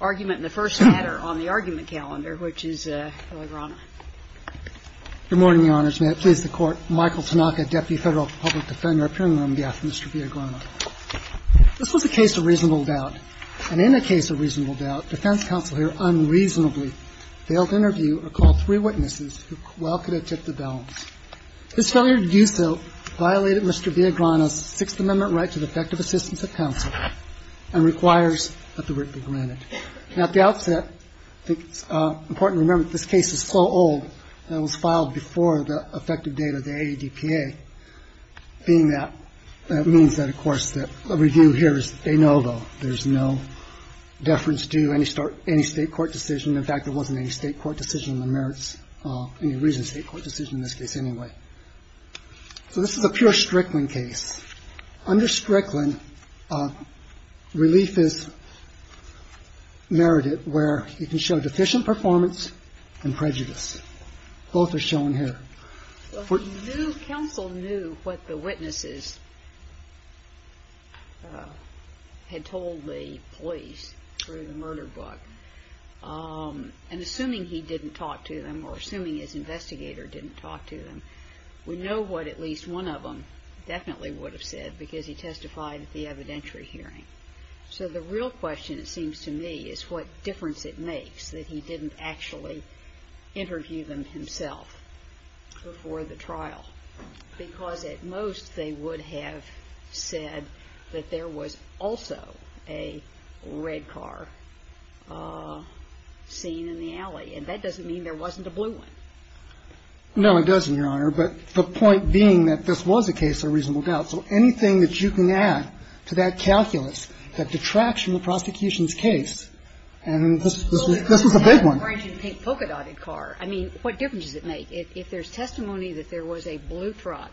Good morning, Your Honors. May it please the Court, Michael Tanaka, Deputy Federal Public Defender, appearing on behalf of Mr. Villagrana. This was a case of reasonable doubt, and in a case of reasonable doubt, defense counsel here unreasonably failed to interview or call three witnesses who well could have tipped the balance. His failure to do so violated Mr. Villagrana's Sixth Amendment right to the effective assistance of counsel and requires that the writ be granted. Now, at the outset, I think it's important to remember that this case is so old, and it was filed before the effective date of the ADPA. Being that, that means that, of course, that a review here is a no-go. There's no deference to any state court decision. In fact, there wasn't any state court decision on the merits, any reason state court decision in this case anyway. So this is a pure Strickland case. Under Strickland, relief is merited where you can show deficient performance and prejudice. Both are shown here. GINSBURG Counsel knew what the witnesses had told the police through the murder book. And assuming he didn't talk to them, or assuming his investigator didn't talk to them, we know what at least one of them definitely would have said, because he testified at the evidentiary hearing. So the real question, it seems to me, is what difference it makes that he didn't actually interview them himself before the trial, because at most they would have said that there was also a red car seen in the alley. And that doesn't mean there wasn't a blue one. No, it doesn't, Your Honor. But the point being that this was a case of reasonable doubt. So anything that you can add to that calculus, that detracts from the prosecution's case, and this was a big one. Well, if it was a red-branched and pink polka-dotted car, I mean, what difference does it make? If there's testimony that there was a blue truck,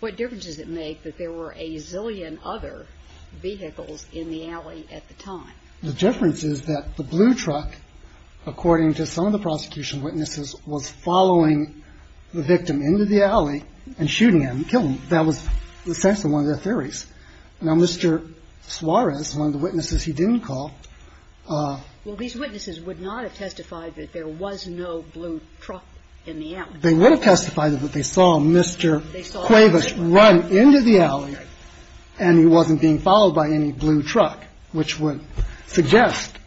what difference does it make that there were a zillion other vehicles in the alley at the time? The difference is that the blue truck, according to some of the prosecution witnesses, was following the victim into the alley and shooting him, killing him. That was essentially one of their theories. Now, Mr. Suarez, one of the witnesses he didn't call – Well, these witnesses would not have testified that there was no blue truck in the alley. They would have testified that they saw Mr. Cuevas run into the alley and he wasn't being followed by any blue truck, which would suggest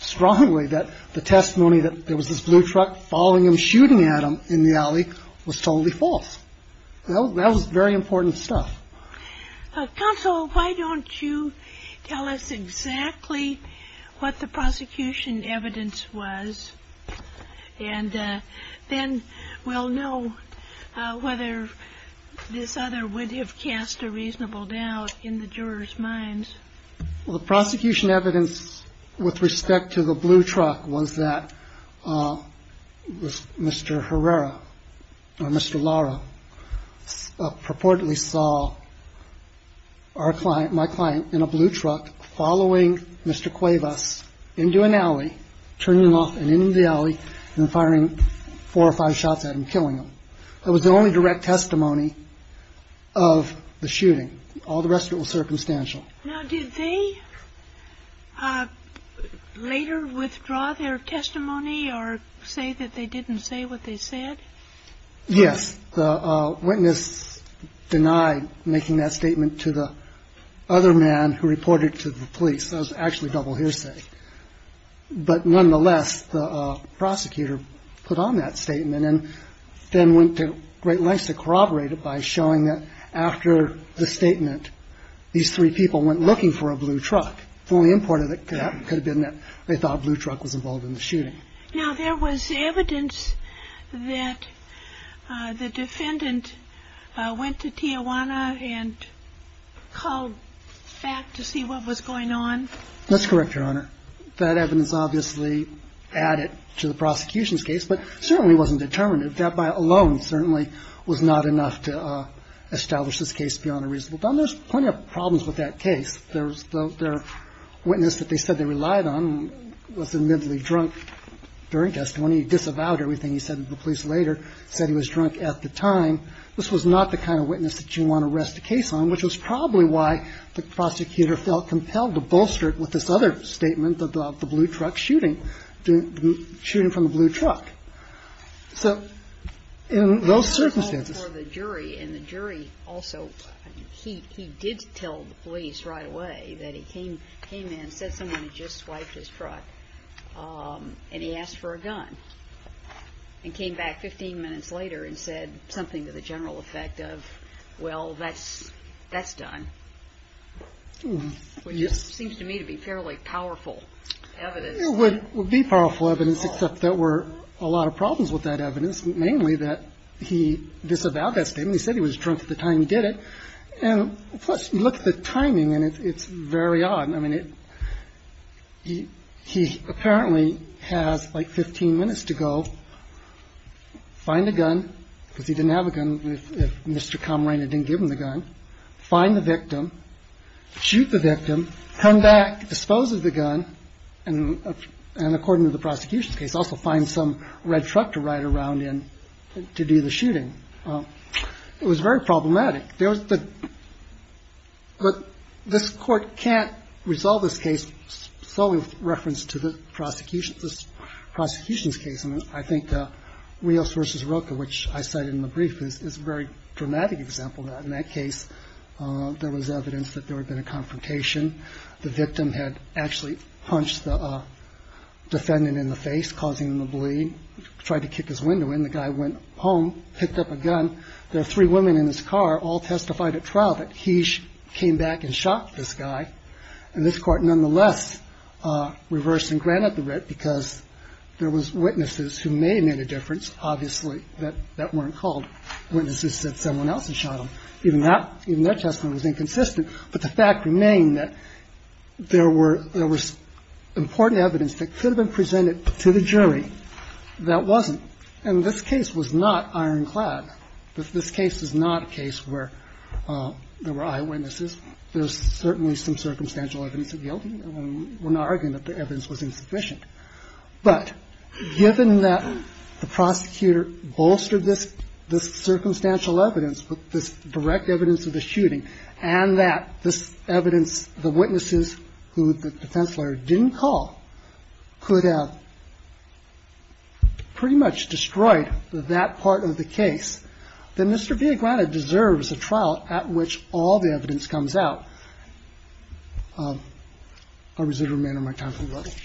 strongly that the testimony that there was this blue truck following him, shooting at him in the alley was totally false. That was very important stuff. Counsel, why don't you tell us exactly what the prosecution evidence was, and then we'll know whether this other would have cast a reasonable doubt in the jurors' minds. Well, the prosecution evidence with respect to the blue truck was that Mr. Herrera or Mr. Lara purportedly saw our client, my client, in a blue truck following Mr. Cuevas. That was the only direct testimony of the shooting. All the rest of it was circumstantial. Now, did they later withdraw their testimony or say that they didn't say what they said? Yes. The witness denied making that statement to the other man who reported to the police. That was actually double hearsay. But nonetheless, the prosecutor put on that statement and then went to great lengths to corroborate it by showing that after the statement, these three people went looking for a blue truck. The only important thing could have been that they thought a blue truck was involved in the shooting. Now, there was evidence that the defendant went to Tijuana and called back to see what was going on? That's correct, Your Honor. That evidence obviously added to the prosecution's case, but certainly wasn't determinative. That by alone certainly was not enough to establish this case beyond a reasonable doubt. And there's plenty of problems with that case. The witness that they said they relied on was admittedly drunk during testimony. He disavowed everything he said to the police later. He said he was drunk at the time. This was not the kind of witness that you want to rest a case on, which was probably why the prosecutor felt compelled to bolster it with this other statement about the blue truck shooting, the shooting from the blue truck. So in those circumstances For the jury, and the jury also, he did tell the police right away that he came in and said someone had just swiped his truck and he asked for a gun and came back 15 minutes later and said something to the general effect of, well, that's done. Which seems to me to be fairly powerful evidence. It would be powerful evidence, except there were a lot of problems with that evidence, mainly that he disavowed that statement. He said he was drunk at the time he did it. And plus, you look at the timing, and it's very odd. I mean, he apparently has like 15 minutes to go find a gun, because he didn't have a gun if Mr. Camarena didn't give him the gun, find the victim, shoot the victim, come back, dispose of the gun, and according to the prosecution's case, also find some red truck to ride around in to do the shooting. It was very problematic. There was the, but this court can't resolve this case solely with reference to the prosecution, this prosecution's case. And I think Rios versus Roca, which I think is a problematic example of that. In that case, there was evidence that there had been a confrontation. The victim had actually punched the defendant in the face, causing him to bleed, tried to kick his window in. The guy went home, picked up a gun. There were three women in his car, all testified at trial that he came back and shot this guy. And this court nonetheless reversed and granted the writ, because there was witnesses who may have made a difference, obviously, that weren't called witnesses that someone else had shot him. Even that, even that testimony was inconsistent. But the fact remained that there were, there was important evidence that could have been presented to the jury that wasn't. And this case was not ironclad. This case is not a case where there were eyewitnesses. There's certainly some circumstantial evidence of guilt. And we're not arguing that the evidence was insufficient. But given that the prosecutor bolstered this, this circumstantial evidence, this direct evidence of the shooting, and that this evidence, the witnesses who the defense lawyer didn't call, could have pretty much destroyed that part of the case, then Mr. Villagrana deserves a trial at which all the evidence comes out. I'll reserve the remainder of my time for the rest.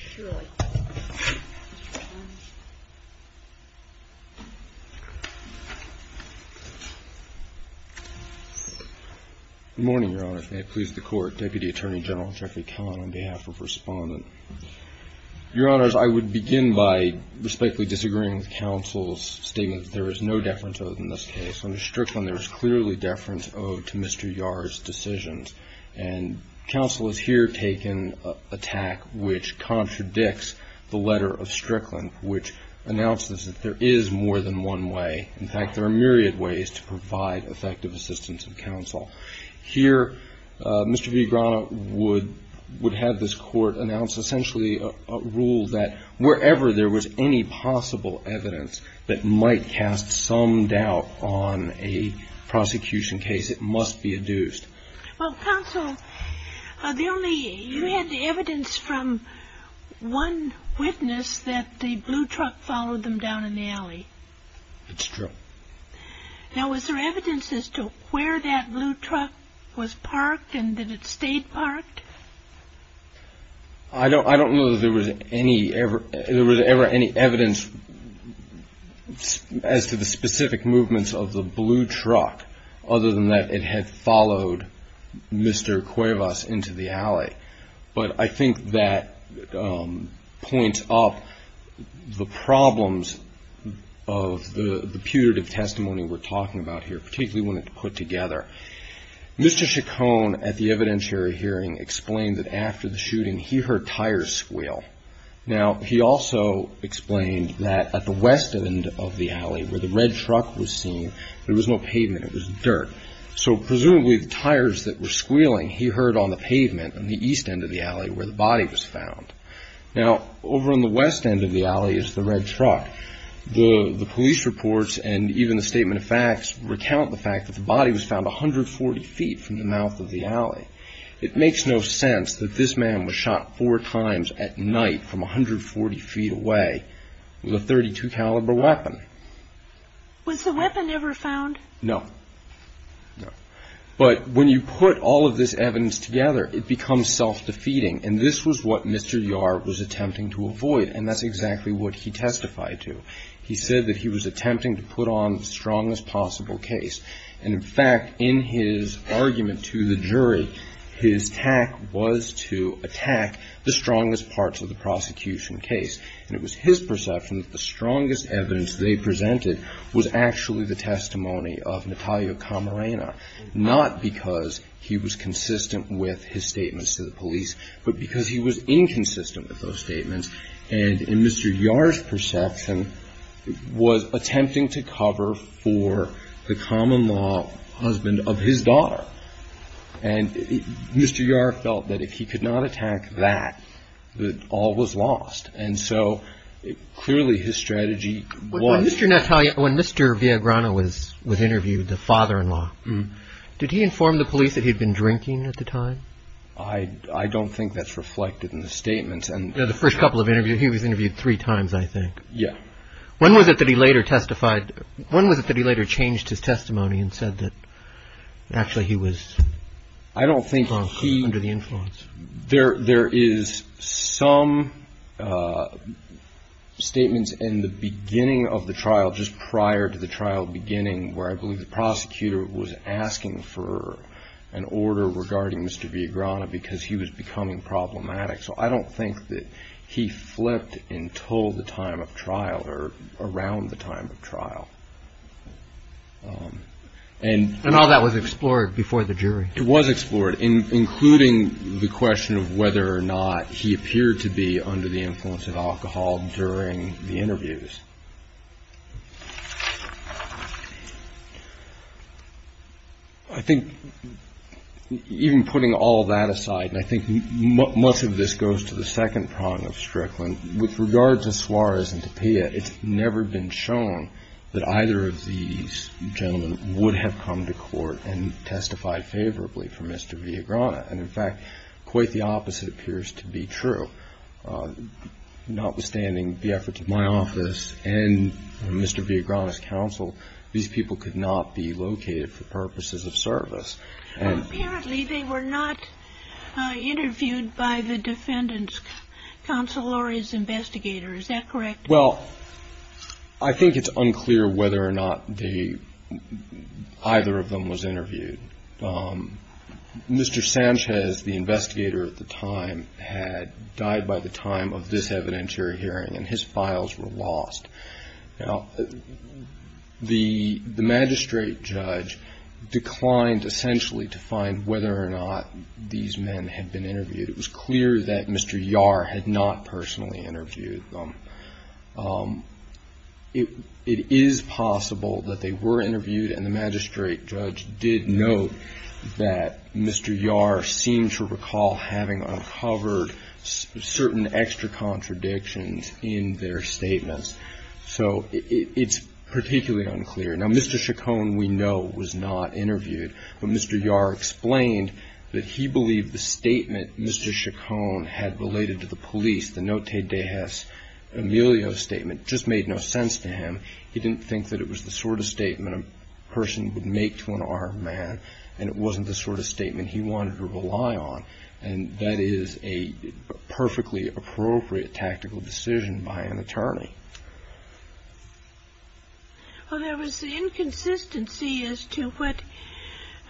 Good morning, Your Honor. May it please the Court. Deputy Attorney General Jeffrey Kahn on behalf of Respondent. Your Honors, I would begin by respectfully disagreeing with counsel's statement that there is no deference owed in this case. Under Strickland there is clearly deference owed to Mr. Yar's decisions. And counsel has here taken an attack which contradicts the letter of Strickland, which announces that there is more than one way. In fact, there are myriad ways to provide effective assistance of counsel. Here, Mr. Villagrana would have this Court announce essentially a rule that wherever there was any possible evidence that might cast some doubt on a prosecution case, it must be adduced. Well, counsel, you had evidence from one witness that the blue truck followed them down an alley. It's true. Now was there evidence as to where that blue truck was parked and that it stayed parked? I don't know that there was ever any evidence as to the specific movements of the blue truck other than that it had followed Mr. Cuevas into the alley. But I think that points up the problems of the putative testimony we're talking about here, particularly when it's put together. Mr. Chacon at the evidentiary hearing explained that after the shooting he heard tires squeal. Now he also explained that at the west end of the alley where the red truck was seen, there was no pavement. It was dirt. So presumably the tires that were squealing he heard on the pavement on the east end of the alley where the body was found. Now over on the west end of the alley is the red truck. The police reports and even the statement of facts recount the fact that the body was found 140 feet from the mouth of the alley. It makes no sense that this man was shot four times at 140 feet away with a .32 caliber weapon. Was the weapon ever found? No. But when you put all of this evidence together, it becomes self-defeating. And this was what Mr. Yar was attempting to avoid. And that's exactly what he testified to. He said that he was attempting to put on the strongest possible case. And in fact, in his argument to the jury, his tack was to attack the strongest parts of the prosecution case. And it was his perception that the strongest evidence they presented was actually the testimony of Natalia Camarena, not because he was consistent with his statements to the police, but because he was inconsistent with those statements. And in Mr. Yar's perception, was attempting to cover for the common law husband of his daughter. And Mr. Yar felt that if he could not attack that, that all was lost. And so clearly his strategy was... When Mr. Viagrano was interviewed, the father-in-law, did he inform the police that he'd been drinking at the time? I don't think that's reflected in the statements. The first couple of interviews, he was interviewed three times, I think. Yeah. When was it that he later changed his testimony and said that actually he was under the influence? There is some statements in the beginning of the trial, just prior to the trial beginning, where I believe the prosecutor was asking for an order regarding Mr. Viagrano because he was becoming problematic. So I don't think that he flipped until the time of trial, or around the time of trial. And all that was explored before the jury? It was explored, including the question of whether or not he appeared to be under the influence of alcohol during the interviews. I think even putting all that aside, and I think most of this goes to the second prong of Strickland, with regard to Suarez and Tapia, it's never been shown that And, in fact, quite the opposite appears to be true. Notwithstanding the efforts of my office and Mr. Viagrano's counsel, these people could not be located for purposes of service. Apparently they were not interviewed by the defendant's counsel or his investigator. Is that correct? Well, I think it's unclear whether or not either of them was interviewed. Mr. Sanchez, the investigator at the time, had died by the time of this evidentiary hearing, and his files were lost. Now, the magistrate judge declined essentially to find whether or not these men had been interviewed. It was clear that Mr. Yar had not personally interviewed them. It is possible that they were interviewed, and the magistrate judge did note that Mr. Yar seemed to recall having uncovered certain extra contradictions in their statements. So it's particularly unclear. Now, Mr. Chacon, we know, was not interviewed, but Mr. Yar explained that he believed that the statement Mr. Chacon had related to the police, the No Te Dejas Emilio statement, just made no sense to him. He didn't think that it was the sort of statement a person would make to an armed man, and it wasn't the sort of statement he wanted to rely on. And that is a perfectly appropriate tactical decision by an attorney. Well, there was inconsistency as to what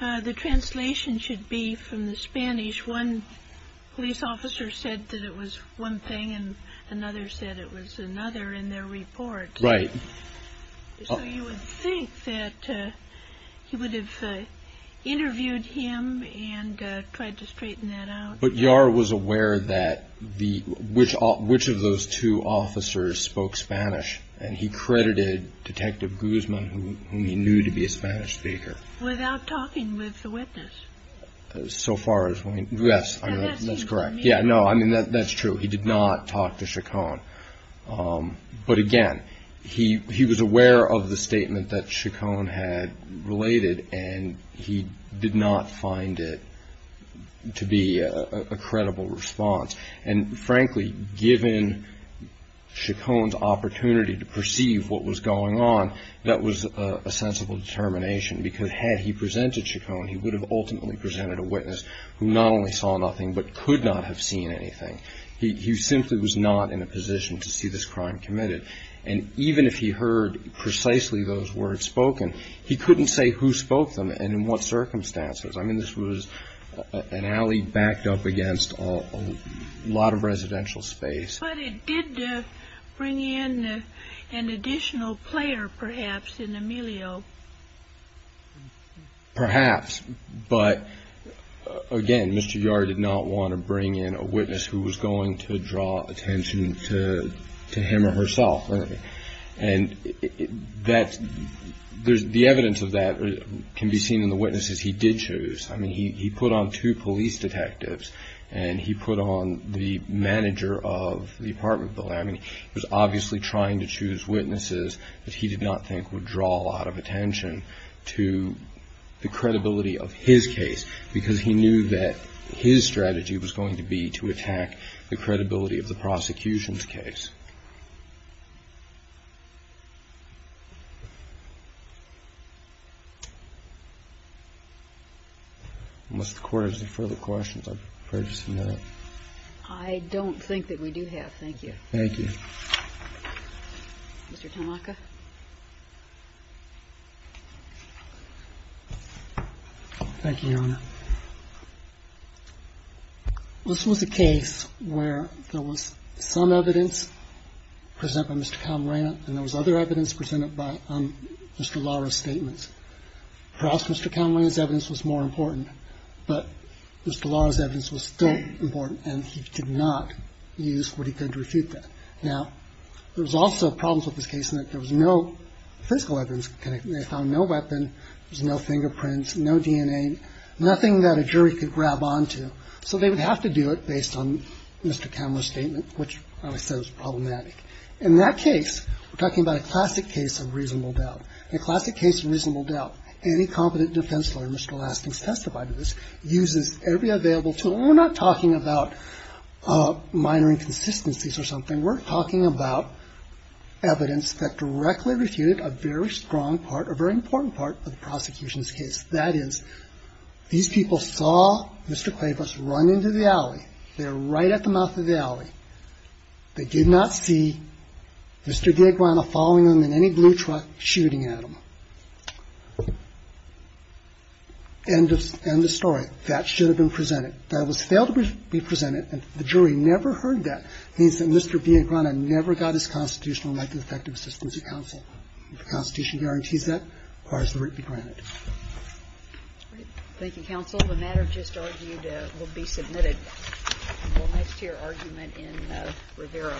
the translation should be from the Spanish. One police officer said that it was one thing, and another said it was another in their report. Right. So you would think that he would have interviewed him and tried to straighten that out. But Yar was aware that the, which of those two officers spoke Spanish, and he credited Detective Guzman, whom he knew to be a Spanish speaker. Without talking with the witness. So far as, yes, that's correct. Yeah, no, I mean, that's true. He did not talk to Chacon. But again, he was aware of the statement that Chacon had related, and he did not find it to be a credible response. And frankly, given Chacon's opportunity to perceive what was going on, that was a sensible determination. Because had he presented Chacon, he would have ultimately presented a witness who not only saw nothing, but could not have seen anything. He simply was not in a position to see this crime committed. And even if he heard precisely those words spoken, he couldn't say who spoke them and in what circumstances. I mean, this was an alley backed up against a lot of residential space. But it did bring in an additional player, perhaps, in Emilio. Perhaps. But again, Mr. Yar did not want to bring in a witness who was going to draw attention to him or herself. And the evidence of that can be seen in the witnesses he did choose. I mean, he put on two police detectives, and he put on the manager of the apartment building. He was obviously trying to choose witnesses that he did not think would draw a lot of attention to the credibility of his case, because he knew that his strategy was going to be to attack the credibility of the prosecution's case. Unless the Court has any further questions, I'm afraid it's a minute. I don't think that we do have. Thank you. Thank you. Thank you, Your Honor. This was a case where there was some evidence presented by Mr. Camarena and there was other evidence presented by Mr. Lara's statements. Perhaps Mr. Camarena's evidence was more important, but Mr. Lara's evidence was still important, and he did not use what he could to refute that. Now, there was also problems with this case in that there was no physical evidence. They found no weapon. There was no fingerprints, no DNA, nothing that a jury could grab onto. So they would have to do it based on Mr. Camarena's statement, which I would say was problematic. In that case, we're talking about a classic case of reasonable doubt. In a classic case of reasonable doubt, any competent defense lawyer, Mr. Lasting's testified to this, uses every available tool. And we're not talking about minor inconsistencies or something. We're talking about evidence that directly refuted a very strong part, a very important part of the prosecution's case. That is, these people saw Mr. Cuevas run into the alley. They were right at the mouth of the alley. They did not see Mr. D'Agrana following them in any blue truck, shooting at him. End of story. That should have been presented. That was failed to be presented, and the jury never heard that. It means that Mr. D'Agrana never got his constitutional life effective assistance of counsel. The Constitution guarantees that, as far as the writ be granted. Thank you, counsel. The matter just argued will be submitted. We'll next hear argument in Rivera. Thank you.